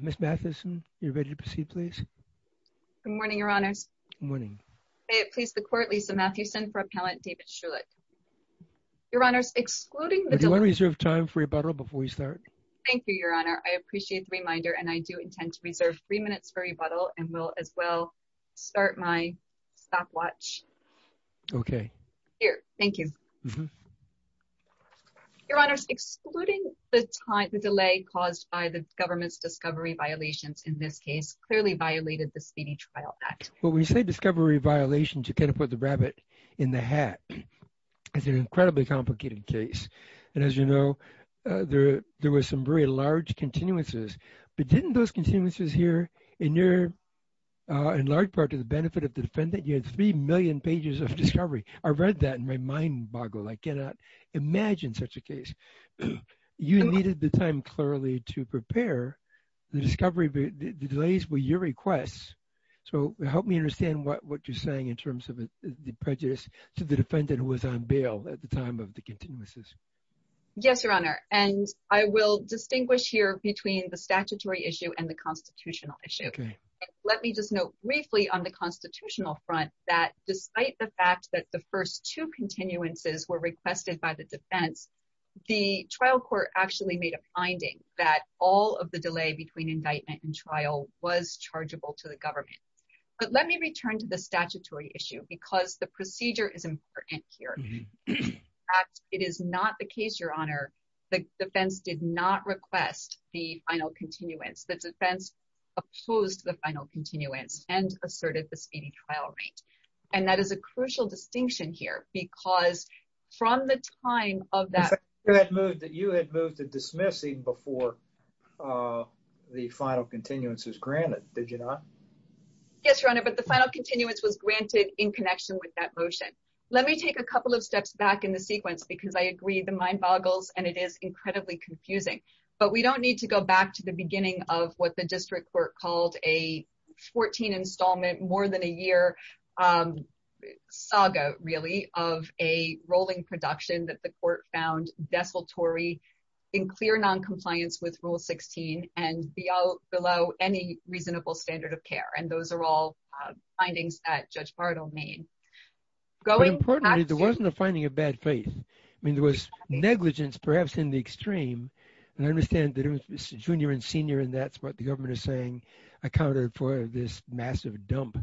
Ms. Matheson, you're ready to proceed, please? Good morning, Your Honors. Good morning. I please the Court, Lisa Matheson, for Appellant David Shulick. Your Honors, excluding the delay— Do you want to reserve time for rebuttal before we start? Thank you, Your Honor. I appreciate the reminder, and I do intend to reserve three minutes for rebuttal, and will as well start my stopwatch. Okay. Here. Thank you. Mm-hmm. Your Honors, excluding the delay caused by the government's discovery violations, in this case, clearly violated the Speedy Trial Act. When we say discovery violations, you kind of put the rabbit in the hat. It's an incredibly complicated case. And as you know, there were some very large continuances. But didn't those continuances here, in large part to the benefit of the defendant, you had three million pages of discovery. I read that, and my mind boggled. I cannot imagine such a case. You needed the time clearly to prepare the discovery—the delays were your requests. So help me understand what you're saying in terms of the prejudice to the defendant who was on bail at the time of the continuances. Yes, Your Honor. And I will distinguish here between the statutory issue and the constitutional issue. Okay. Let me just note briefly on the constitutional front that despite the fact that the first two continuances were requested by the defense, the trial court actually made a finding that all of the delay between indictment and trial was chargeable to the government. But let me return to the statutory issue because the procedure is important here. In fact, it is not the case, Your Honor, the defense did not request the final continuance. The defense opposed the final continuance and asserted the speedy trial rate. And that is a crucial distinction here because from the time of that— In fact, you had moved to dismiss even before the final continuance was granted, did you not? Yes, Your Honor, but the final continuance was granted in connection with that motion. Let me take a couple of steps back in the sequence because I agree the mind boggles and it is incredibly confusing. But we don't need to go back to the beginning of what the district court called a 14 installment, more than a year saga really of a rolling production that the court found desultory in clear noncompliance with Rule 16 and below any reasonable standard of care. And those are all findings that Judge Bartle made. But importantly, there wasn't a finding of bad faith. I mean, there was negligence perhaps in the extreme. And I understand that it was junior and senior and that's what the government is saying. I counted for this massive dump.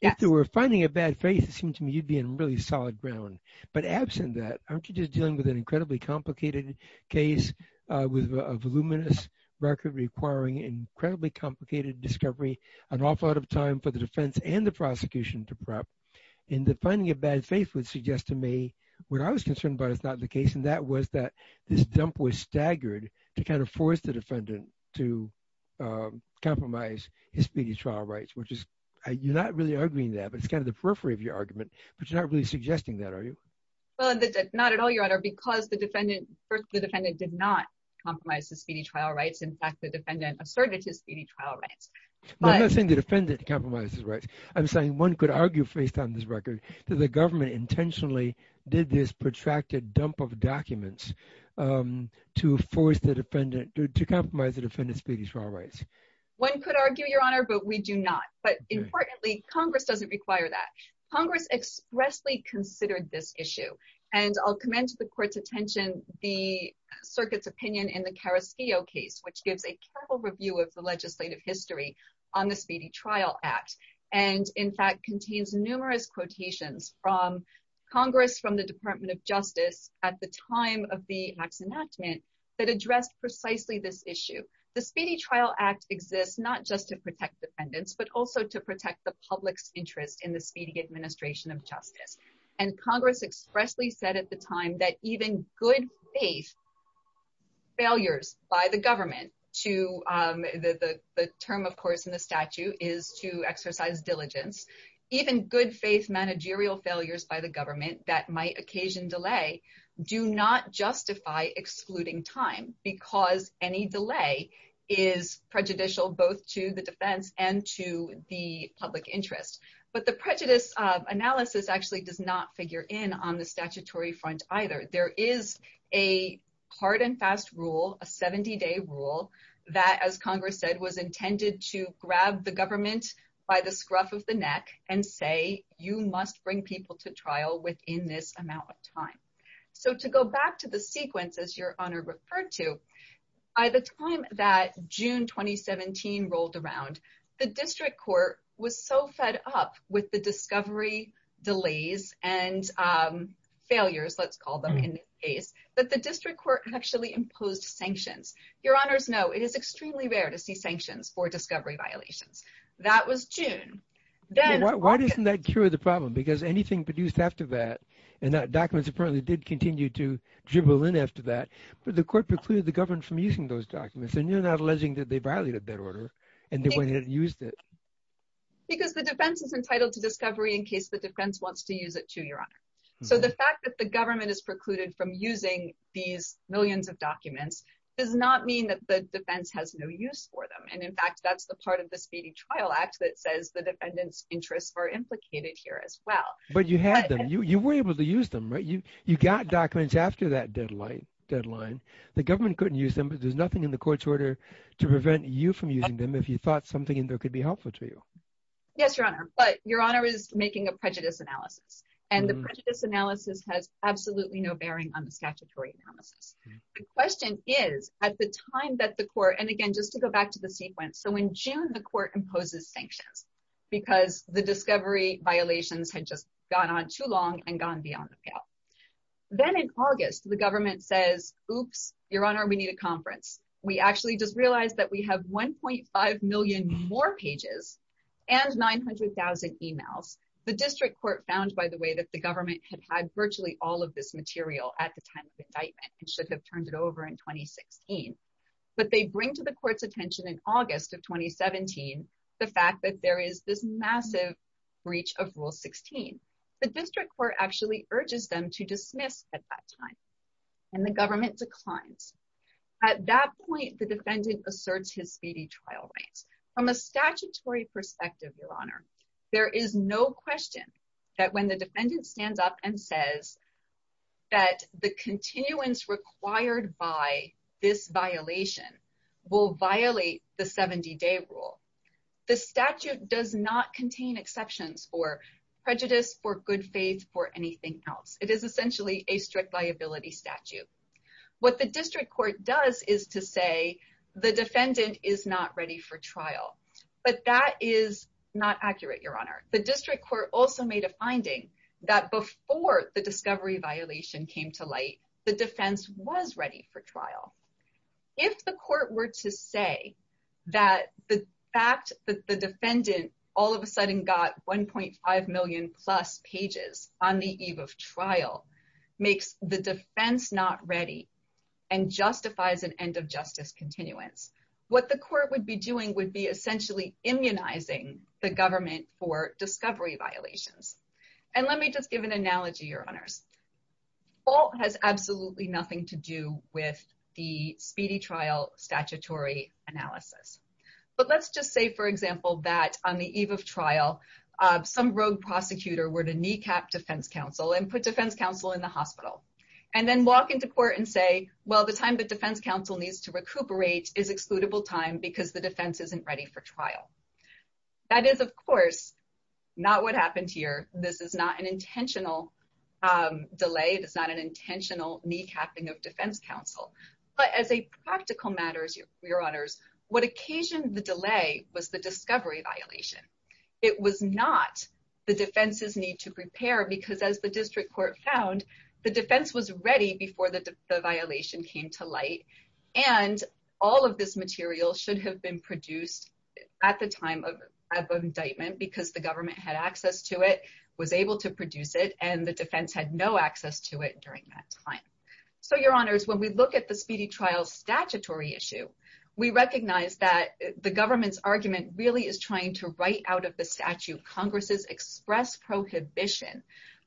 If there were a finding of bad faith, it seems to me you'd be in really solid ground. But absent that, aren't you just dealing with an incredibly complicated case with a voluminous record requiring incredibly complicated discovery, an awful lot of time for the defense and the prosecution to prep? And the finding of bad faith would suggest to me what I was concerned about is not the case. And that was that this dump was staggered to kind of force the defendant to compromise his speedy trial rights, which is you're not really arguing that, but it's kind of the periphery of your argument. But you're not really suggesting that, are you? Well, not at all, Your Honor, because the defendant did not compromise his speedy trial rights. In fact, the defendant asserted his speedy trial rights. I'm not saying the defendant compromised his rights. I'm saying one could argue based on this record that the government intentionally did this protracted dump of documents to compromise the defendant's speedy trial rights. One could argue, Your Honor, but we do not. But importantly, Congress doesn't require that. Congress expressly considered this issue. And I'll commend to the court's attention the circuit's opinion in the Carrasquillo case, which gives a careful review of the legislative history on the Speedy Trial Act. And in fact, contains numerous quotations from Congress from the Department of Justice at the time of the Act's enactment that addressed precisely this issue. The Speedy Trial Act exists not just to protect defendants, but also to protect the public's interest in the speedy administration of justice. And Congress expressly said at the time that even good faith failures by the government to the term, of course, in the statute is to exercise diligence. Even good faith managerial failures by the government that might occasion delay do not justify excluding time because any delay is prejudicial both to the defense and to the public interest. But the prejudice analysis actually does not figure in on the statutory front either. There is a hard and fast rule, a 70-day rule that, as Congress said, was intended to grab the government by the scruff of the neck and say, you must bring people to trial within this amount of time. So to go back to the sequence, as your honor referred to, by the time that June 2017 rolled around, the district court was so fed up with the discovery delays and failures, let's call them in this case, that the district court actually imposed sanctions. Your honors know it is extremely rare to see sanctions for discovery violations. That was June. Why doesn't that cure the problem? Because anything produced after that, and documents apparently did continue to dribble in after that, but the court precluded the government from using those documents. And you're not alleging that they violated that order and they went ahead and used it. Because the defense is entitled to discovery in case the defense wants to use it too, your honor. So the fact that the government is precluded from using these millions of documents does not mean that the defense has no use for them. And in fact, that's the part of the Speedy Trial Act that says the defendant's interests are implicated here as well. But you had them. You were able to use them, right? You got documents after that deadline. The government couldn't use them, but there's nothing in the court's order to prevent you from using them if you thought something in there could be helpful to you. Yes, your honor. But your honor is making a prejudice analysis. And the prejudice analysis has absolutely no bearing on the statutory analysis. The question is, at the time that the court, and again, just to go back to the sequence. So in June, the court imposes sanctions because the discovery violations had just gone on too long and gone beyond the pale. Then in August, the government says, oops, your honor, we need a conference. We actually just realized that we have 1.5 million more pages and 900,000 emails. The district court found, by the way, that the government had had virtually all of this material at the time of indictment and should have turned it over in 2016. But they bring to the court's attention in August of 2017, the fact that there is this massive breach of Rule 16. The district court actually urges them to dismiss at that time. And the government declines. At that point, the defendant asserts his speedy trial rights. From a statutory perspective, your honor, there is no question that when the defendant stands up and says that the continuance required by this violation will violate the 70-day rule, the statute does not contain exceptions for prejudice, for good faith, for anything else. It is essentially a strict liability statute. What the district court does is to say the defendant is not ready for trial. But that is not accurate, your honor. The district court also made a finding that before the discovery violation came to light, the defense was ready for trial. If the court were to say that the fact that the defendant all of a sudden got 1.5 million plus pages on the eve of trial makes the defense not ready and justifies an end of justice continuance, what the court would be doing would be essentially immunizing the government for discovery violations. And let me just give an analogy, your honors. Fault has absolutely nothing to do with the speedy trial statutory analysis. But let's just say, for example, that on the eve of trial, some rogue prosecutor were to kneecap defense counsel and put defense counsel in the hospital and then walk into court and say, well, the time that defense counsel needs to recuperate is excludable time because the defense isn't ready for trial. That is, of course, not what happened here. This is not an intentional delay. It is not an intentional kneecapping of defense counsel. But as a practical matter, your honors, what occasioned the delay was the discovery violation. It was not the defense's need to prepare because as the district court found, the defense was ready before the violation came to light. And all of this material should have been produced at the time of indictment because the government had access to it, was able to produce it, and the defense had no access to it during that time. So, your honors, when we look at the speedy trial statutory issue, we recognize that the government's argument really is trying to write out of the statute Congress's express prohibition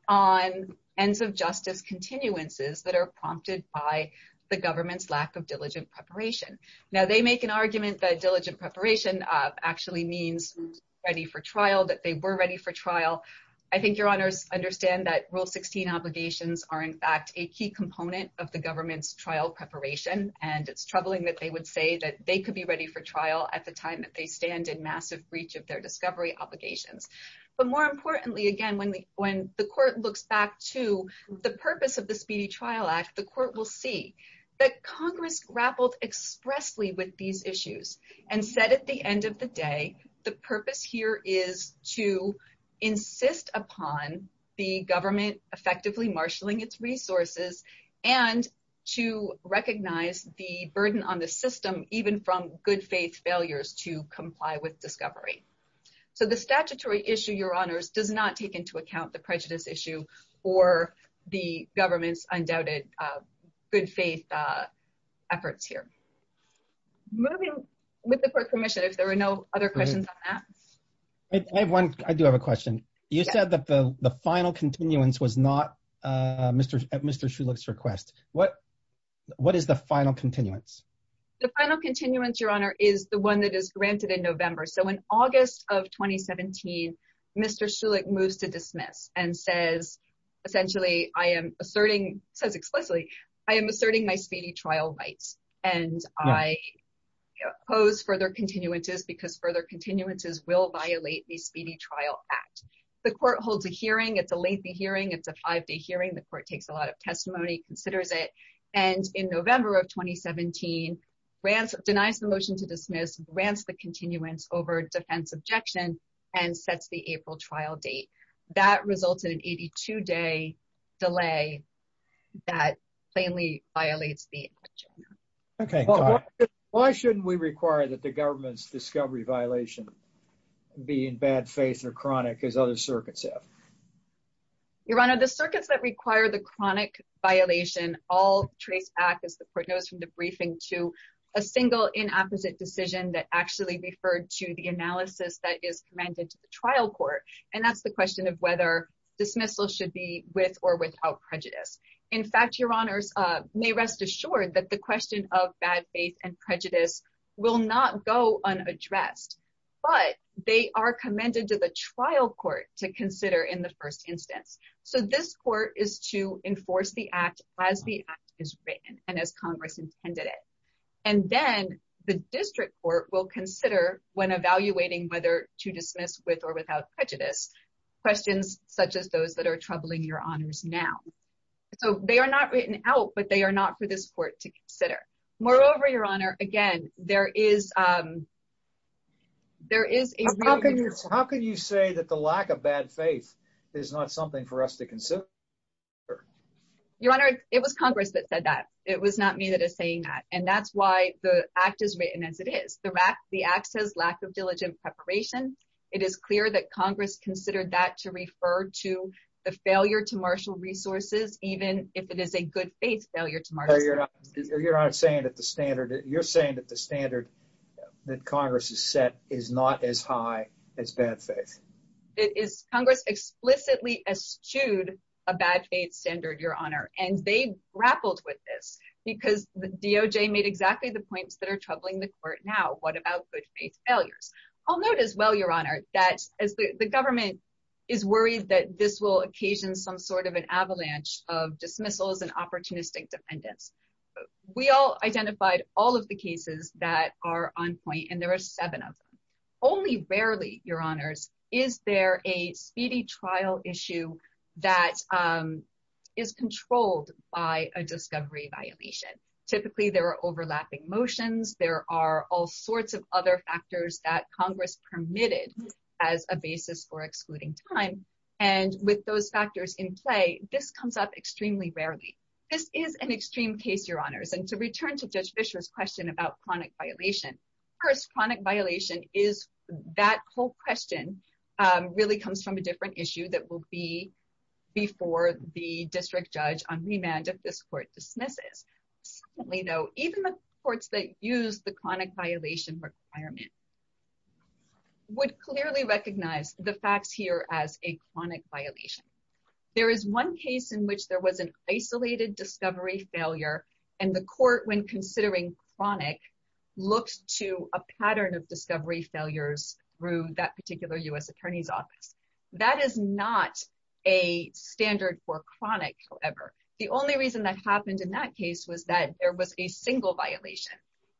on ends of justice continuances that are prompted by the government's lack of diligent preparation. Now, they make an argument that diligent preparation actually means ready for trial, that they were ready for trial. I think your honors understand that Rule 16 obligations are, in fact, a key component of the government's trial preparation. And it's troubling that they would say that they could be ready for trial at the time that they stand in massive breach of their discovery obligations. But more importantly, again, when the court looks back to the purpose of the Speedy Trial Act, the court will see that Congress grappled expressly with these issues and said at the time, the government effectively marshaling its resources and to recognize the burden on the system even from good faith failures to comply with discovery. So, the statutory issue, your honors, does not take into account the prejudice issue or the government's undoubted good faith efforts here. Moving with the court commission, if there are no other questions on that. I have one. I do have a question. You said that the final continuance was not Mr. Shulich's request. What is the final continuance? The final continuance, your honor, is the one that is granted in November. So, in August of 2017, Mr. Shulich moves to dismiss and says, essentially, I am asserting, says explicitly, I am asserting my speedy trial rights. And I pose further continuances because further continuances will violate the Speedy Trial Act. The court holds a hearing. It's a lengthy hearing. It's a five-day hearing. The court takes a lot of testimony, considers it. And in November of 2017, denies the motion to dismiss, grants the continuance over defense objection, and sets the April trial date. That resulted in an 82-day delay that plainly violates the action. Why shouldn't we require that the government's discovery violation be in bad faith or chronic as other circuits have? Your honor, the circuits that require the chronic violation all trace back, as the court knows from the briefing, to a single inopposite decision that actually referred to the analysis that is commended to the trial court. And that's the question of whether dismissal should be with or without prejudice. In fact, your honors may rest assured that the question of bad faith and prejudice will not go unaddressed. But they are commended to the trial court to consider in the first instance. So this court is to enforce the act as the act is written and as Congress intended it. And then the district court will consider when evaluating whether to dismiss with or prejudice questions such as those that are troubling your honors now. So they are not written out. But they are not for this court to consider. Moreover, your honor, again, there is there is a How can you say that the lack of bad faith is not something for us to consider? Your honor, it was Congress that said that. It was not me that is saying that. And that's why the act is written as it is. The act says lack of diligent preparation. It is clear that Congress considered that to refer to the failure to marshal resources, even if it is a good faith failure to marshal resources. Your honor, you're saying that the standard that Congress has set is not as high as bad faith. It is. Congress explicitly eschewed a bad faith standard, your honor. And they grappled with this because the DOJ made exactly the points that are troubling the court now. What about good faith failures? I'll note as well, your honor, that as the government is worried that this will occasion some sort of an avalanche of dismissals and opportunistic defendants. We all identified all of the cases that are on point. And there are seven of them. Only rarely, your honors, is there a speedy trial issue that is controlled by a discovery violation. Typically, there are overlapping motions. There are all sorts of other factors that Congress permitted as a basis for excluding time. And with those factors in play, this comes up extremely rarely. This is an extreme case, your honors. And to return to Judge Fischer's question about chronic violation. First, chronic violation is that whole question really comes from a different issue that will be before the district judge on remand if this court dismisses. Secondly, though, even the courts that use the chronic violation requirement would clearly recognize the facts here as a chronic violation. There is one case in which there was an isolated discovery failure. And the court, when considering chronic, looked to a pattern of discovery failures through that particular U.S. attorney's office. That is not a standard for chronic, however. The only reason that happened in that case was that there was a single violation.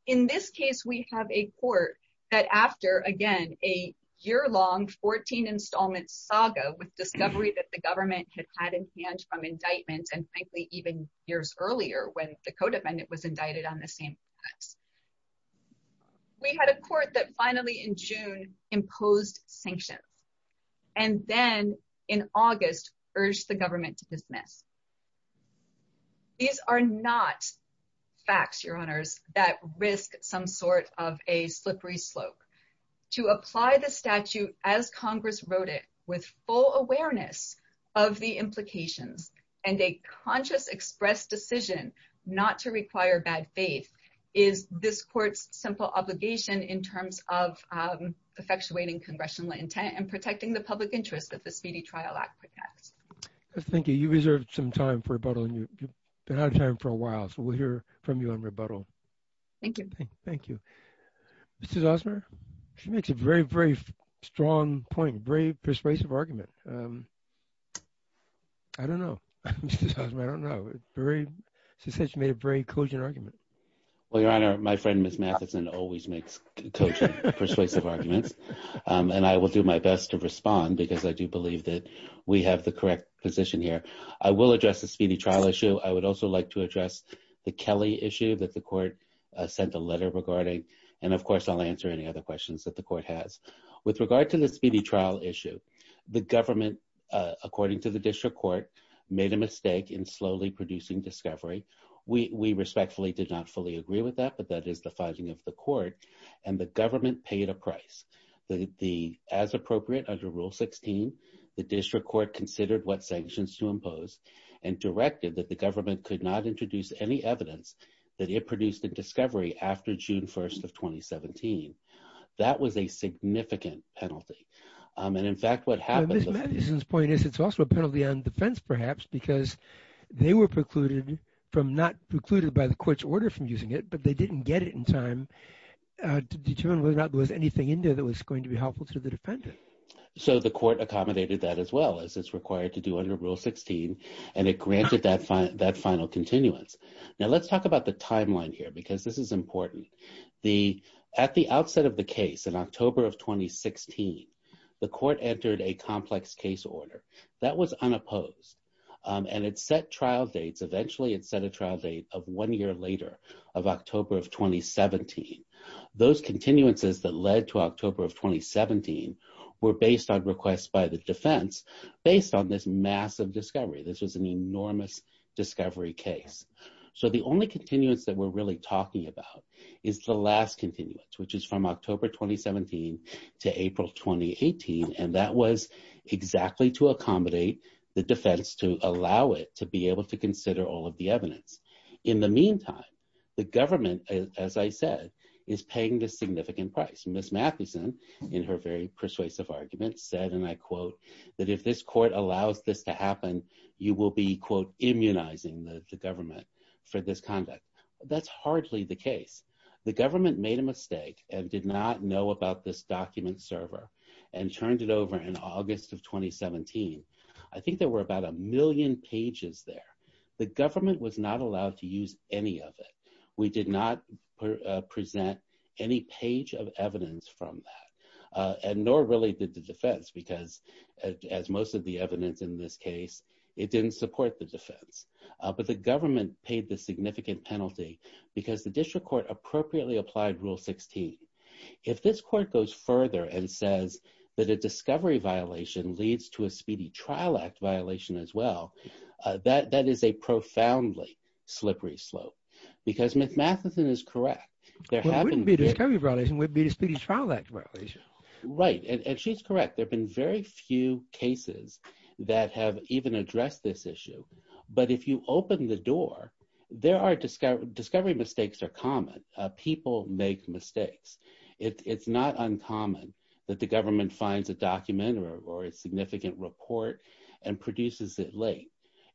In this case, we have a court that after, again, a year-long 14 installment saga with discovery that the government had had in hand from indictments and frankly, even years earlier when the co-defendant was indicted on the same offense. We had a court that finally in June imposed sanctions. And then in August urged the government to dismiss. These are not facts, Your Honors, that risk some sort of a slippery slope. To apply the statute as Congress wrote it with full awareness of the implications and a conscious expressed decision not to require bad faith is this court's simple obligation in terms of effectuating congressional intent and protecting the public interest that the Speedy Trial Act protects. Thank you. You reserved some time for rebuttal and you've been out of time for a while. So we'll hear from you on rebuttal. Thank you. Thank you. Mrs. Osmer, she makes a very, very strong point. Brave, persuasive argument. I don't know, Mrs. Osmer. I don't know. She said she made a brave, cogent argument. Well, Your Honor, my friend, Ms. Matheson always makes cogent, persuasive arguments. And I will do my best to respond because I do believe that we have the correct position here. I will address the speedy trial issue. I would also like to address the Kelly issue that the court sent a letter regarding. And of course, I'll answer any other questions that the court has. With regard to the speedy trial issue, the government, according to the district court, made a mistake in slowly producing discovery. We respectfully did not fully agree with that, but that is the finding of the court. And the government paid a price. As appropriate under Rule 16, the district court considered what sanctions to impose and directed that the government could not introduce any evidence that it produced a discovery after June 1st of 2017. That was a significant penalty. And in fact, what happened- And Ms. Matheson's point is it's also a penalty on defense, perhaps, because they were precluded from, not precluded by the court's order from using it, but they didn't get it in time to determine whether or not there was anything in there that was going to be helpful to the defendant. So the court accommodated that as well as it's required to do under Rule 16, and it granted that final continuance. Now, let's talk about the timeline here because this is important. At the outset of the case, in October of 2016, the court entered a complex case order. That was unopposed. And it set trial dates. Of one year later, of October of 2017, those continuances that led to October of 2017 were based on requests by the defense based on this massive discovery. This was an enormous discovery case. So the only continuance that we're really talking about is the last continuance, which is from October 2017 to April 2018. And that was exactly to accommodate the defense, to allow it to be able to consider all of the evidence. In the meantime, the government, as I said, is paying the significant price. Ms. Mathewson, in her very persuasive argument, said, and I quote, that if this court allows this to happen, you will be, quote, immunizing the government for this conduct. That's hardly the case. The government made a mistake and did not know about this document server and turned it over in August of 2017. I think there were about a million pages there. The government was not allowed to use any of it. We did not present any page of evidence from that. And nor really did the defense because, as most of the evidence in this case, it didn't support the defense. But the government paid the significant penalty because the district court appropriately applied Rule 16. If this court goes further and says that a discovery violation leads to a Speedy Trial Act violation as well, that is a profoundly slippery slope. Because Ms. Mathewson is correct. Well, it wouldn't be a discovery violation. It would be a Speedy Trial Act violation. Right. And she's correct. There have been very few cases that have even addressed this issue. But if you open the door, discovery mistakes are common. People make mistakes. It's not uncommon that the government finds a document or a significant report and produces it late.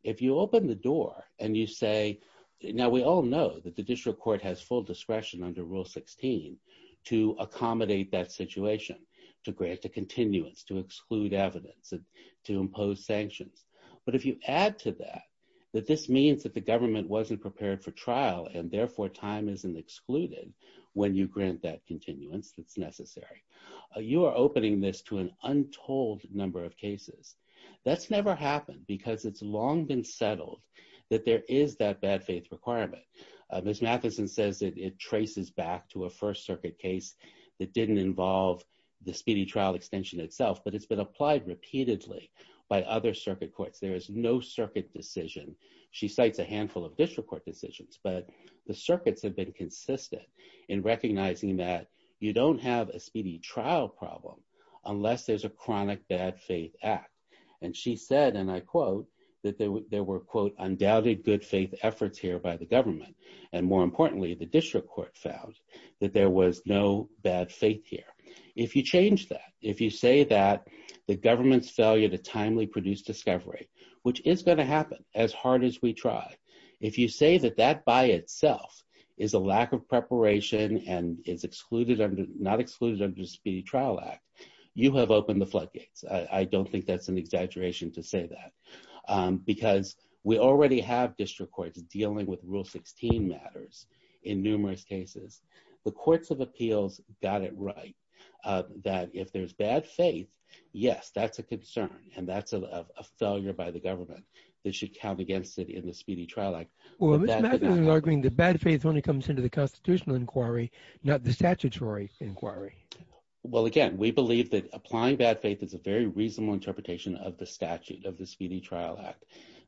If you open the door and you say, now we all know that the district court has full discretion under Rule 16 to accommodate that situation, to grant a continuance, to exclude evidence, to impose sanctions. But if you add to that, that this means that the government wasn't prepared for trial and therefore time isn't excluded when you grant that continuance that's necessary. You are opening this to an untold number of cases. That's never happened because it's long been settled that there is that bad faith requirement. Ms. Mathewson says that it traces back to a first circuit case that didn't involve the speedy trial extension itself, but it's been applied repeatedly by other circuit courts. There is no circuit decision. She cites a handful of district court decisions, but the circuits have been consistent in recognizing that you don't have a speedy trial problem unless there's a chronic bad faith act. She said, and I quote, that there were, quote, undoubted good faith efforts here by the government. And more importantly, the district court found that there was no bad faith here. If you change that, if you say that the government's failure to timely produce discovery, which is going to happen as hard as we try. If you say that that by itself is a lack of preparation and is excluded, not excluded under the Speedy Trial Act, you have opened the floodgates. I don't think that's an exaggeration to say that. Because we already have district courts dealing with Rule 16 matters in numerous cases. The courts of appeals got it right that if there's bad faith, yes, that's a concern. And that's a failure by the government. They should count against it in the Speedy Trial Act. Well, Ms. Mathewson is arguing that bad faith only comes into the constitutional inquiry, not the statutory inquiry. Well, again, we believe that applying bad faith is a very reasonable interpretation of the statute of the Speedy Trial Act,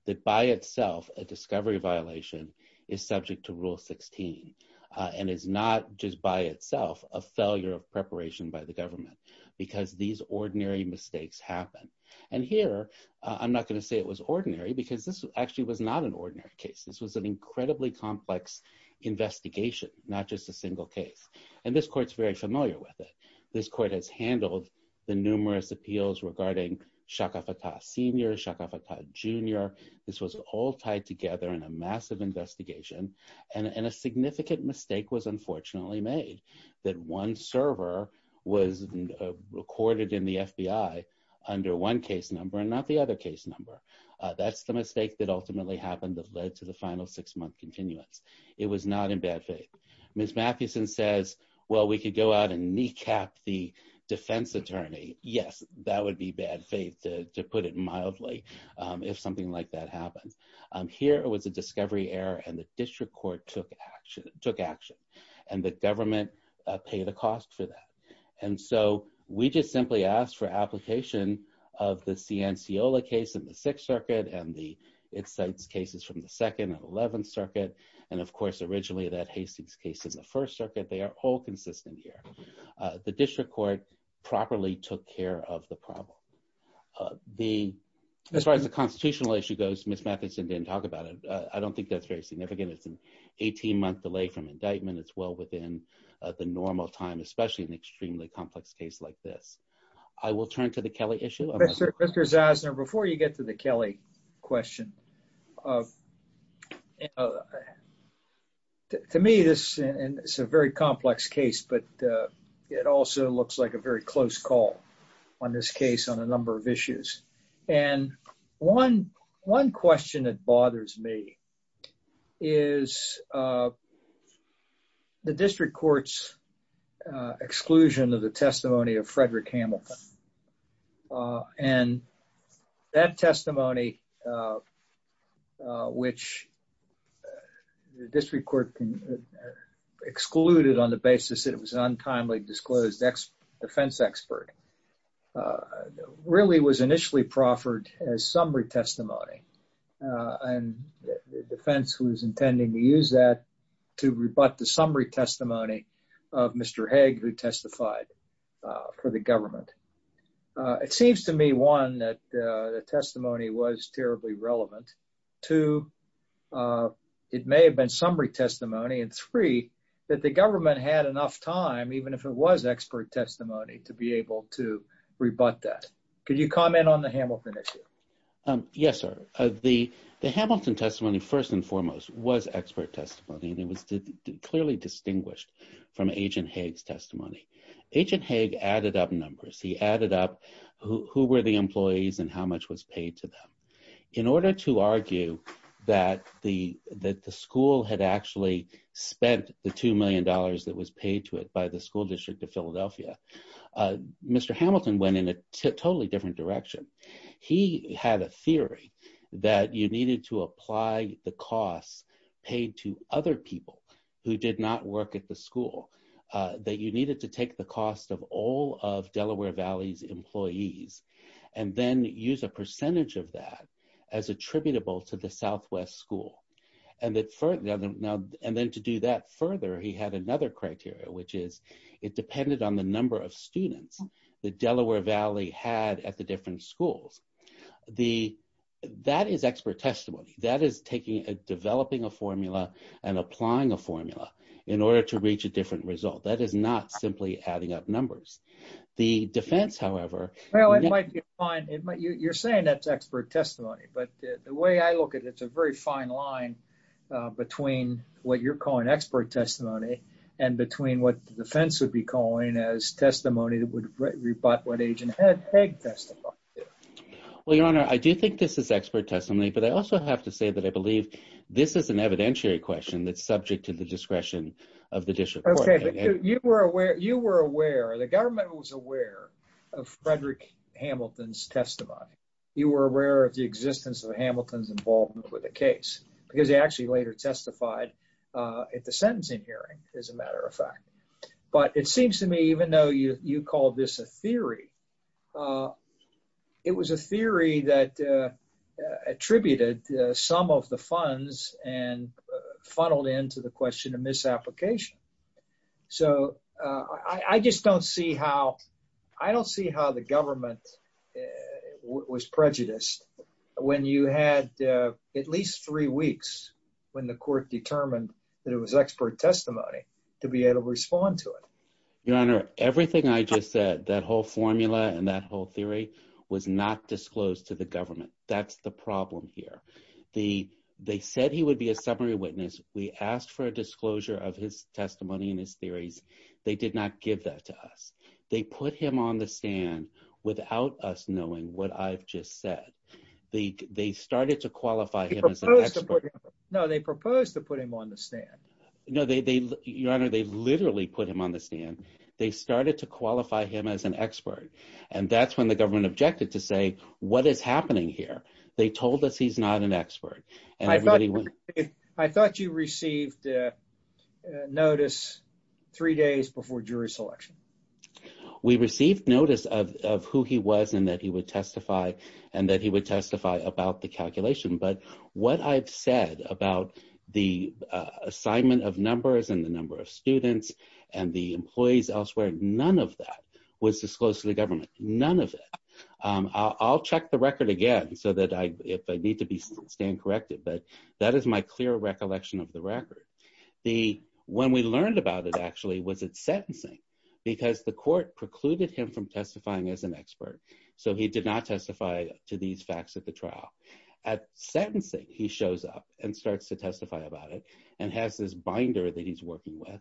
that by itself, a discovery violation is subject to Rule 16 and is not just by itself a failure of preparation by the government because these ordinary mistakes happen. And here, I'm not going to say it was ordinary because this actually was not an ordinary case. This was an incredibly complex investigation, not just a single case. And this court's very familiar with it. This court has handled the numerous appeals regarding Shaka Fattah Sr., Shaka Fattah Jr. This was all tied together in a massive investigation. And a significant mistake was unfortunately made, that one server was recorded in the FBI under one case number and not the other case number. That's the mistake that ultimately happened that led to the final six-month continuance. It was not in bad faith. Ms. Mathewson says, well, we could go out and kneecap the defense attorney. Yes, that would be bad faith, to put it mildly, if something like that happens. Here, it was a discovery error and the district court took action and the government paid the cost for that. And so we just simply asked for application of the Cianciola case in the Sixth Circuit and the Itcites cases from the Second and Eleventh Circuit. And of course, originally that Hastings case in the First Circuit, they are all consistent here. The district court properly took care of the problem. As far as the constitutional issue goes, Ms. Mathewson didn't talk about it. I don't think that's very significant. It's an 18-month delay from indictment. It's well within the normal time, especially in an extremely complex case like this. I will turn to the Kelly issue. Mr. Zasner, before you get to the Kelly question, to me, this is a very complex case, but it also looks like a very close call on this case on a number of issues. And one question that bothers me is the district court's exclusion of the testimony of Frederick Hamilton. And that testimony, which the district court excluded on the basis that it was an untimely disclosed defense expert, really was initially proffered as summary testimony. And the defense was intending to use that to rebut the summary testimony of Mr. Haig, who testified for the government. It seems to me, one, that the testimony was terribly relevant. Two, it may have been summary testimony. And three, that the government had enough time, even if it was expert testimony, to be able to rebut that. Could you comment on the Hamilton issue? Yes, sir. The Hamilton testimony, first and foremost, was expert testimony, and it was clearly distinguished from Agent Haig's testimony. Agent Haig added up numbers. He added up who were the employees and how much was paid to them. In order to argue that the school had actually spent the $2 million that was paid to it by the school district of Philadelphia, Mr. Hamilton went in a totally different direction. He had a theory that you needed to apply the costs paid to other people who did not work at the school, that you needed to take the cost of all of Delaware Valley's employees and then use a percentage of that as attributable to the Southwest school. And then to do that further, he had another criteria, which is it depended on the number of students that Delaware Valley had at the different schools. That is expert testimony. That is developing a formula and applying a formula in order to reach a different result. That is not simply adding up numbers. The defense, however- Well, it might be fine. You're saying that's expert testimony, but the way I look at it, it's a very fine line between what you're calling expert testimony and between what the defense would be calling as testimony that would rebut what Agent Haig testified. Well, Your Honor, I do think this is expert testimony, but I also have to say that I believe this is an evidentiary question that's subject to the discretion of the district court. Okay, you were aware, the government was aware of Frederick Hamilton's testimony. You were aware of the existence of Hamilton's involvement with the case because he actually later testified at the sentencing hearing, as a matter of fact. But it seems to me, even though you call this a theory, it was a theory that attributed some of the funds and funneled into the question of misapplication. So I just don't see how the government was prejudiced when you had at least three weeks when the court determined that it was expert testimony to be able to respond to it. Your Honor, everything I just said, that whole formula and that whole theory was not disclosed to the government. That's the problem here. The, they said he would be a summary witness. We asked for a disclosure of his testimony and his theories. They did not give that to us. They put him on the stand without us knowing what I've just said. They started to qualify him as an expert. No, they proposed to put him on the stand. No, Your Honor, they literally put him on the stand. They started to qualify him as an expert. And that's when the government objected to say, what is happening here? They told us he's not an expert. I thought you received notice three days before jury selection. We received notice of who he was and that he would testify and that he would testify about the calculation. But what I've said about the assignment of numbers and the number of students and the employees elsewhere, none of that was disclosed to the government. None of it. I'll check the record again if I need to stand corrected, but that is my clear recollection of the record. When we learned about it, actually, was at sentencing because the court precluded him from testifying as an expert. So he did not testify to these facts at the trial. At sentencing, he shows up and starts to testify about it and has this binder that he's working with.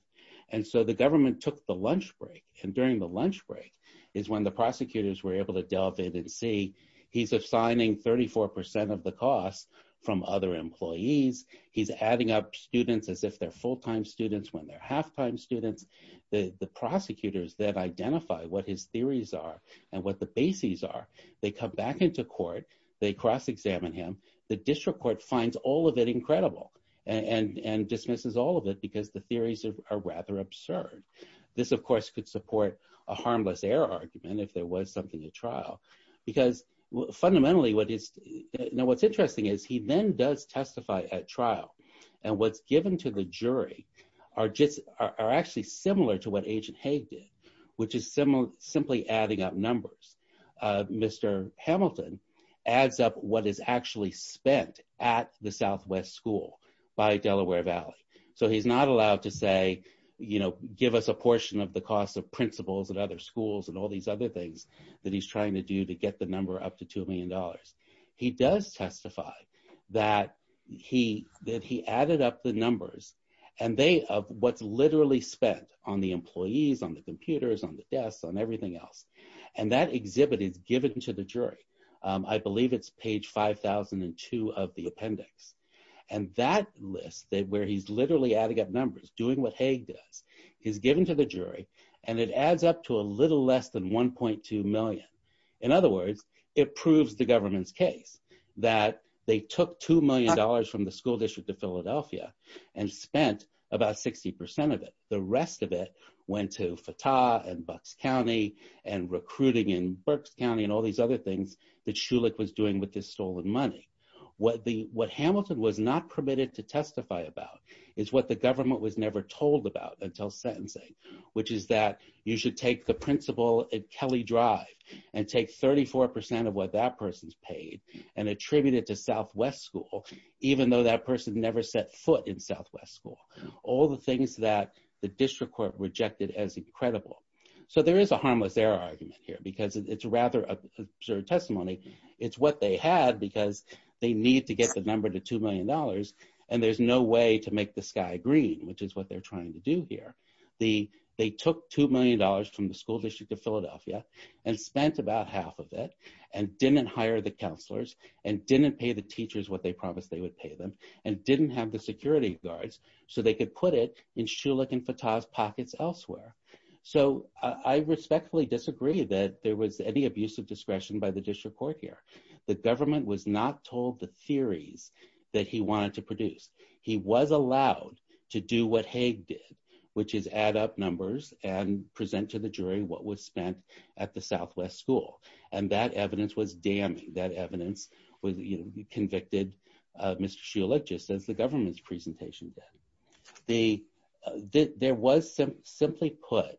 And so the government took the lunch break. And during the lunch break is when the prosecutors were able to delve in and see he's assigning 34% of the costs from other employees. He's adding up students as if they're full-time students when they're half-time students. The prosecutors then identify what his theories are and what the bases are. They come back into court. They cross-examine him. The district court finds all of it incredible and dismisses all of it because the theories are rather absurd. This of course could support a harmless error argument if there was something at trial. Because fundamentally, what's interesting is he then does testify at trial. And what's given to the jury are actually similar to what Agent Haig did, which is simply adding up numbers. Mr. Hamilton adds up what is actually spent at the Southwest School by Delaware Valley. So he's not allowed to say, give us a portion of the cost of principals and other schools and all these other things that he's trying to do to get the number up to $2 million. He does testify that he added up the numbers of what's literally spent on the employees, on the computers, on the desks, on everything else. And that exhibit is given to the jury. I believe it's page 5002 of the appendix. And that list where he's literally adding up numbers, doing what Haig does, is given to the jury. And it adds up to a little less than 1.2 million. In other words, it proves the government's case that they took $2 million from the school district of Philadelphia and spent about 60% of it. The rest of it went to Fattah and Bucks County and recruiting in Burks County and all these other things that Schulich was doing with this stolen money. What Hamilton was not permitted to testify about is what the government was never told about until sentencing, which is that you should take the principal at Kelly Drive and take 34% of what that person's paid and attribute it to Southwest School, even though that person never set foot in Southwest School. All the things that the district court rejected as incredible. So there is a harmless error argument here because it's rather absurd testimony. It's what they had because they need to get the number to $2 million. And there's no way to make the sky green, which is what they're trying to do here. They took $2 million from the school district of Philadelphia and spent about half of it and didn't hire the counselors and didn't pay the teachers what they promised they would pay them and didn't have the security guards so they could put it in Schulich and Fattah's pockets elsewhere. So I respectfully disagree that there was any abusive discretion by the district court here. The government was not told the theories that he wanted to produce. He was allowed to do what Hague did, which is add up numbers and present to the jury what was spent at the Southwest School. And that evidence was damning. That evidence convicted Mr. Schulich just as the government's presentation did. There was simply put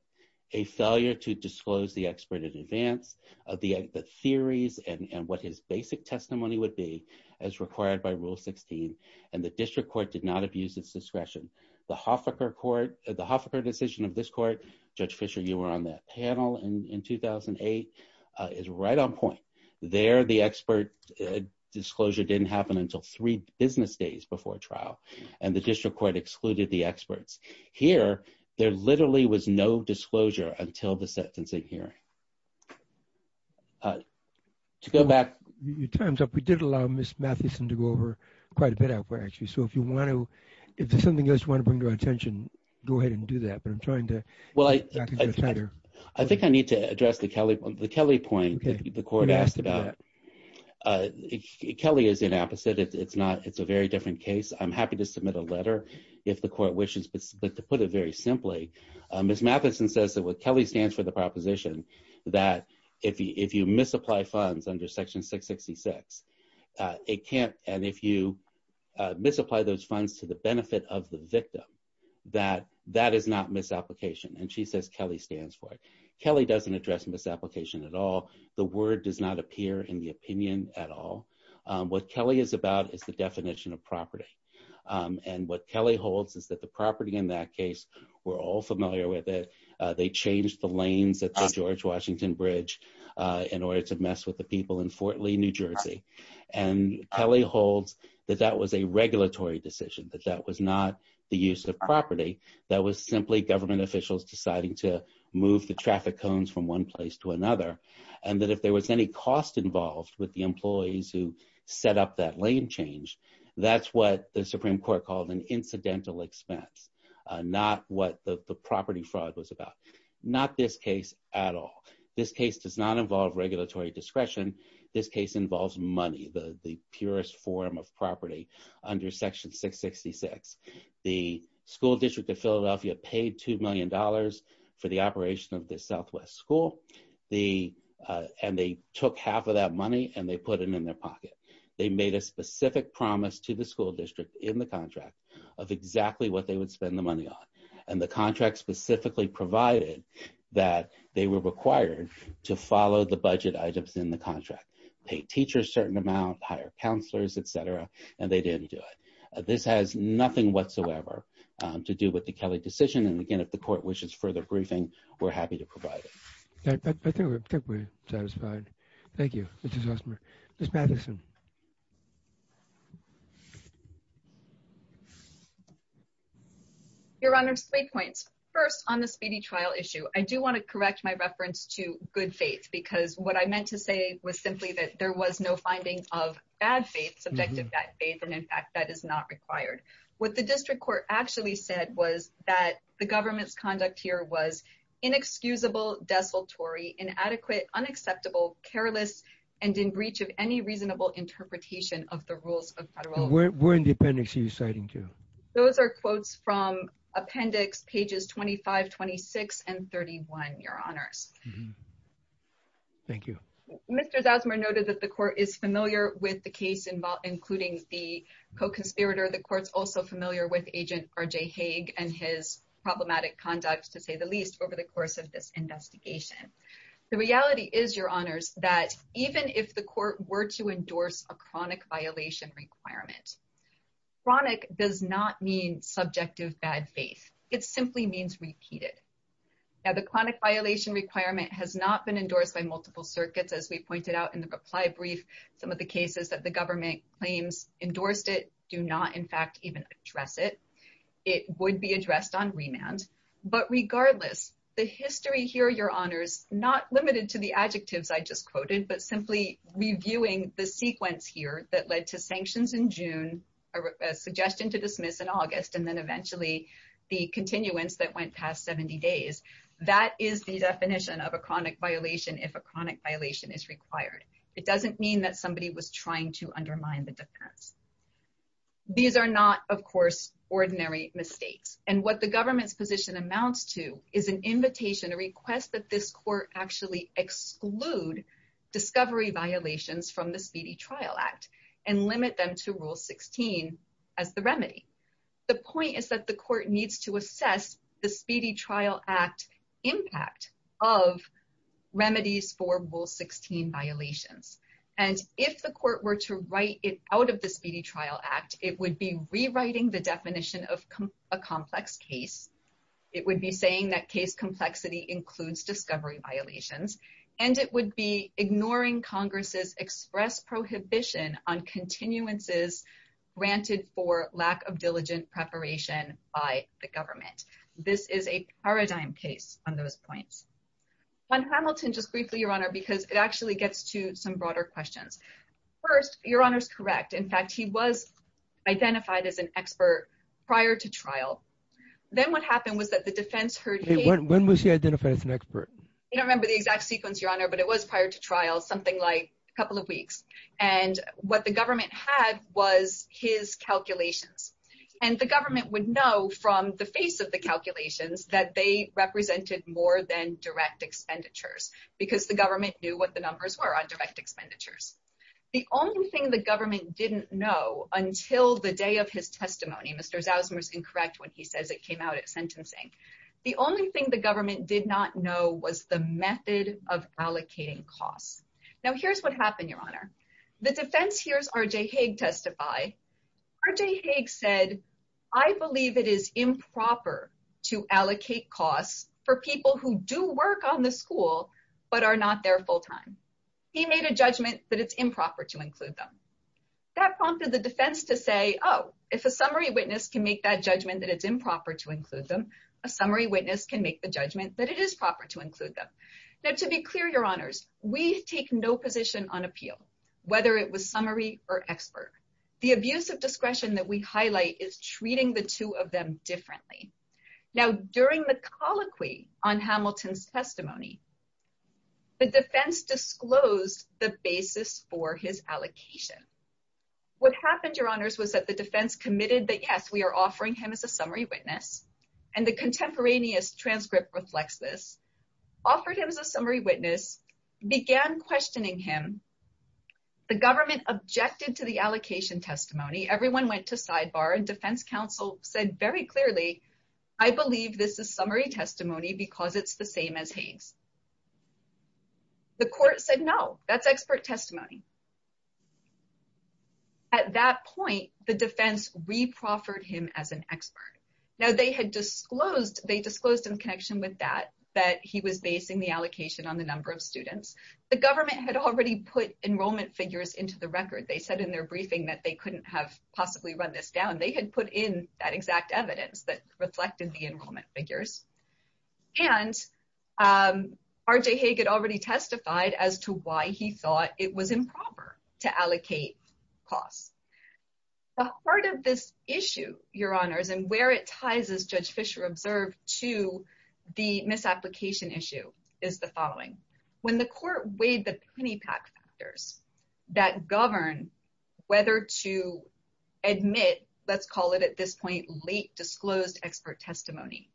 a failure to disclose the expert in advance of the theories and what his basic testimony would be as required by rule 16 and the district court did not abuse its discretion. The Hoffaker court, the Hoffaker decision of this court, Judge Fischer, you were on that panel in 2008, is right on point. There, the expert disclosure didn't happen until three business days before trial and the district court excluded the experts. Here, there literally was no disclosure until the sentencing hearing. To go back. You timed up. We did allow Ms. Mathieson to go over quite a bit actually. So if you want to, if there's something else you want to bring to our attention, go ahead and do that. But I'm trying to. I think I need to address the Kelly point that the court asked about. Kelly is an opposite. It's not, it's a very different case. I'm happy to submit a letter if the court wishes, but to put it very simply, Ms. Mathieson says that what Kelly stands for the proposition that if you misapply funds under section 666, it can't, and if you misapply those funds to the benefit of the victim, that that is not misapplication. And she says Kelly stands for it. Kelly doesn't address misapplication at all. The word does not appear in the opinion at all. What Kelly is about is the definition of property. And what Kelly holds is that the property in that case, we're all familiar with it. They changed the lanes at the George Washington Bridge in order to mess with the people in Fort Lee, New Jersey. And Kelly holds that that was a regulatory decision, that that was not the use of property. That was simply government officials deciding to move the traffic cones from one place to another. And that if there was any cost involved with the employees who set up that lane change, that's what the Supreme Court called an incidental expense, not what the property fraud was about. Not this case at all. This case does not involve regulatory discretion. This case involves money, the purest form of property under section 666. The school district of Philadelphia paid $2 million for the operation of this Southwest school. And they took half of that money and they put it in their pocket. They made a specific promise to the school district in the contract of exactly what they would spend the money on. And the contract specifically provided that they were required to follow the budget items in the contract. Pay teachers a certain amount, hire counselors, et cetera. And they didn't do it. This has nothing whatsoever to do with the Kelly decision. And again, if the court wishes further briefing, we're happy to provide it. I think we're satisfied. Thank you. This is awesome. Your Honor, three points. First, on the speedy trial issue, I do want to correct my reference to good faith, because what I meant to say was simply that there was no finding of bad faith, subjective bad faith. And in fact, that is not required. What the district court actually said was that the government's conduct here was inexcusable, desultory, inadequate, unacceptable, careless, and in breach of any reasonable interpretation of the rules of federal law. Where in the appendix are you citing to? Those are quotes from appendix pages 25, 26, and 31, Your Honors. Thank you. Mr. Zasmer noted that the court is familiar with the case including the co-conspirator. The court's also familiar with Agent RJ Haig and his problematic conduct, to say the least, over the course of this investigation. The reality is, Your Honors, that even if the court were to endorse a chronic violation requirement, chronic does not mean subjective bad faith. It simply means repeated. Now, the chronic violation requirement has not been endorsed by multiple circuits, as we pointed out in the reply brief. Some of the cases that the government claims endorsed it do not, in fact, even address it. It would be addressed on remand. But regardless, the history here, Your Honors, not limited to the adjectives I just quoted, but simply reviewing the sequence here that led to sanctions in June, a suggestion to dismiss in August, and then eventually the continuance that went past 70 days. That is the definition of a chronic violation if a chronic violation is required. It doesn't mean that somebody was trying to undermine the defense. These are not, of course, ordinary mistakes. And what the government's position amounts to is an invitation, a request, that this court actually exclude discovery violations from the Speedy Trial Act and limit them to Rule 16 as the remedy. The point is that the court needs to assess the Speedy Trial Act impact of remedies for Rule 16 violations. And if the court were to write it out of the Speedy Trial Act, it would be rewriting the definition of a complex case. It would be saying that case complexity includes discovery violations. And it would be ignoring Congress's express prohibition on continuances granted for lack of diligent preparation by the government. This is a paradigm case on those points. On Hamilton, just briefly, Your Honor, because it actually gets to some broader questions. First, Your Honor's correct. In fact, he was identified as an expert prior to trial. Then what happened was that the defense heard- Hey, when was he identified as an expert? I don't remember the exact sequence, Your Honor, but it was prior to trial, something like a couple of weeks. And what the government had was his calculations. And the government would know from the face of the calculations that they represented more than direct expenditures, because the government knew what the numbers were on direct expenditures. The only thing the government didn't know until the day of his testimony- Mr. Zausman was incorrect when he says it came out at sentencing. The only thing the government did not know was the method of allocating costs. Now, here's what happened, Your Honor. The defense hears R.J. Haig testify. R.J. Haig said, I believe it is improper to allocate costs for people who do work on the school, but are not there full-time. He made a judgment that it's improper to include them. That prompted the defense to say, oh, if a summary witness can make that judgment that it's improper to include them, a summary witness can make the judgment that it is proper to include them. Now, to be clear, Your Honors, we take no position on appeal, whether it was summary or expert. The abuse of discretion that we highlight is treating the two of them differently. Now, during the colloquy on Hamilton's testimony, the defense disclosed the basis for his allocation. What happened, Your Honors, was that the defense committed that, yes, we are offering him as a summary witness, and the contemporaneous transcript reflects this, offered him as a summary witness, began questioning him. The government objected to the allocation testimony. Everyone went to sidebar and defense counsel said very clearly, I believe this is summary testimony because it's the same as Hague's. The court said, no, that's expert testimony. At that point, the defense reproffered him as an expert. Now, they had disclosed, they disclosed in connection with that, that he was basing the allocation on the number of students. The government had already put enrollment figures into the record. They said in their briefing that they couldn't have possibly run this down. They had put in that exact evidence that reflected the enrollment figures. And R.J. Hague had already testified as to why he thought it was improper to allocate costs. The heart of this issue, Your Honors, and where it ties, as Judge Fischer observed, to the misapplication issue is the following. When the court weighed the penny pack factors that govern whether to admit let's call it at this point, late disclosed expert testimony,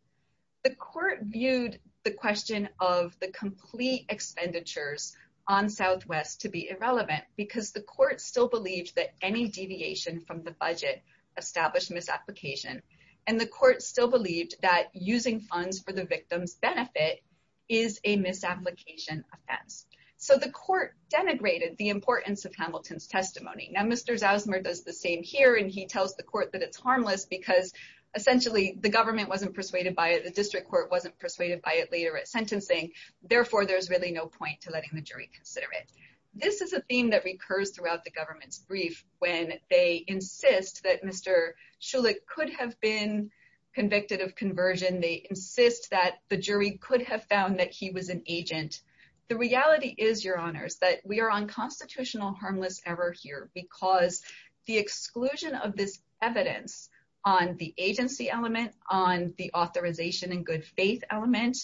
the court viewed the question of the complete expenditures on Southwest to be irrelevant because the court still believed that any deviation from the budget established misapplication. And the court still believed that using funds for the victim's benefit is a misapplication offense. So the court denigrated the importance of Hamilton's testimony. Now, Mr. Zausmer does the same here and he tells the court that it's harmless because essentially the government wasn't persuaded by it. The district court wasn't persuaded by it later at sentencing. Therefore, there's really no point to letting the jury consider it. This is a theme that recurs throughout the government's brief when they insist that Mr. Schulich could have been convicted of conversion. They insist that the jury could have found that he was an agent. The reality is, Your Honors, that we are on constitutional harmless error here because the exclusion of this evidence on the agency element, on the authorization and good faith element,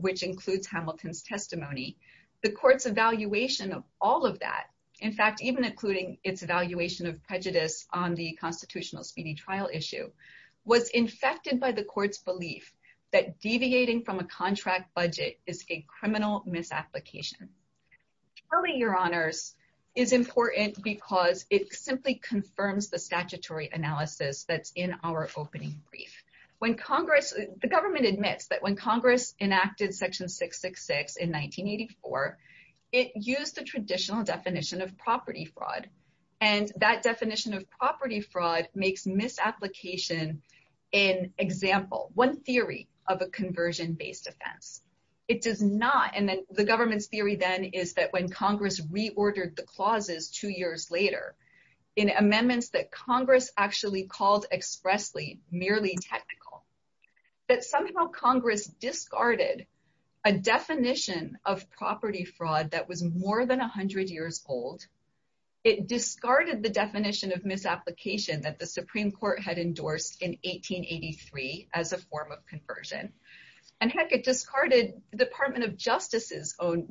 which includes Hamilton's testimony, the court's evaluation of all of that, in fact, even including its evaluation of prejudice on the constitutional speedy trial issue, was infected by the court's belief that deviating from a contract budget is a criminal misapplication. Clearly, Your Honors, is important because it simply confirms the statutory analysis that's in our opening brief. When Congress, the government admits that when Congress enacted Section 666 in 1984, it used the traditional definition of property fraud. And that definition of property fraud makes misapplication an example, one theory of a conversion-based offense. It does not. And then the government's theory then is that when Congress reordered the clauses two years later, in amendments that Congress actually called expressly merely technical, that somehow Congress discarded a definition of property fraud that was more than 100 years old. It discarded the definition of misapplication that the Supreme Court had endorsed in 1883 as a form of conversion. And heck, it discarded the Department of Justice's own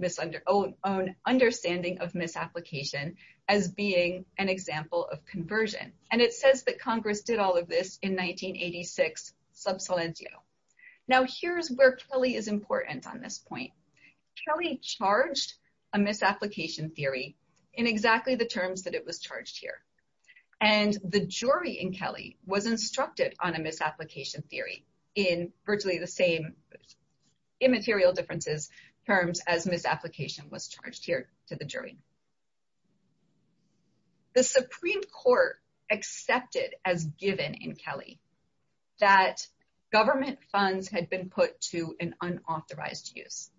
understanding of misapplication as being an example of conversion. And it says that Congress did all of this in 1986, sub salientio. Now here's where Kelly is important on this point. Kelly charged a misapplication theory in exactly the terms that it was charged here. And the jury in Kelly was instructed on a misapplication theory in virtually the same immaterial differences terms as misapplication was charged here to the jury. The Supreme Court accepted as given in Kelly that government funds had been put to an unauthorized use.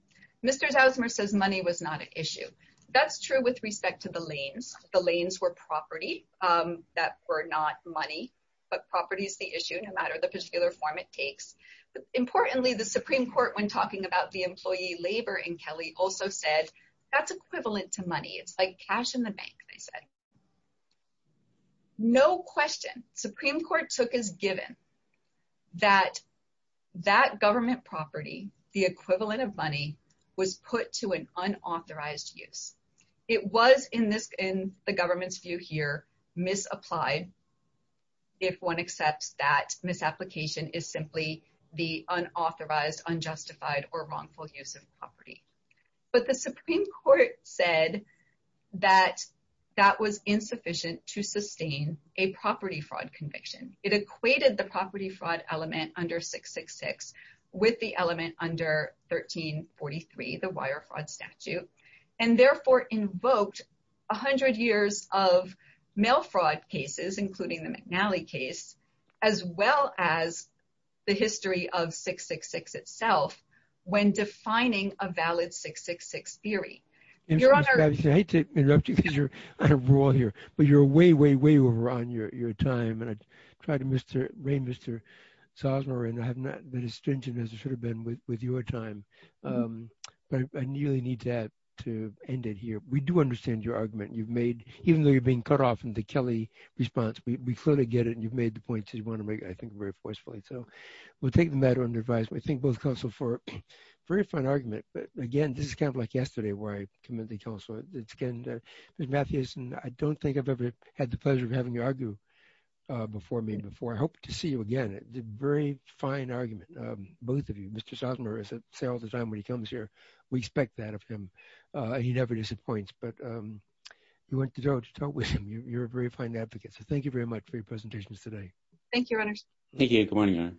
Mr. Zausmer says money was not an issue. That's true with respect to the lanes. The lanes were property that were not money, but property is the issue no matter the particular form it takes. Importantly, the Supreme Court when talking about the employee labor in Kelly also said that's equivalent to money. It's like cash in the bank, they said. No question. Supreme Court took as given that that government property, the equivalent of money was put to an unauthorized use. It was in the government's view here misapplied if one accepts that misapplication is simply the unauthorized, unjustified, or wrongful use of property. But the Supreme Court said that that was insufficient to sustain a property fraud conviction. It equated the property fraud element under 666 with the element under 1343, the wire fraud statute, and therefore invoked 100 years of mail fraud cases, including the McNally case, as well as the history of 666 itself when defining a valid 666 theory. Your Honor- I hate to interrupt you because you're on a roll here, but you're way, way, way over on your time. And I tried to reign Mr. Sosner and I have not been as stringent as I should have been with your time. But I really need to end it here. We do understand your argument. You've made, even though you're being cut off in the Kelly response, we clearly get it. You've made the point that you want to make, I think, very forcefully. So we'll take the matter under advice. We thank both counsel for a very fine argument. But again, this is kind of like yesterday where I commend the counsel. It's again, Mr. Mathewson, I don't think I've ever had the pleasure of having you argue before me before. I hope to see you again. It's a very fine argument, both of you. Mr. Sosner, as I say all the time when he comes here, we expect that of him. He never disappoints, but you went to jail to talk with him. You're a very fine advocate. So thank you very much for your presentations today. Thank you, Runners.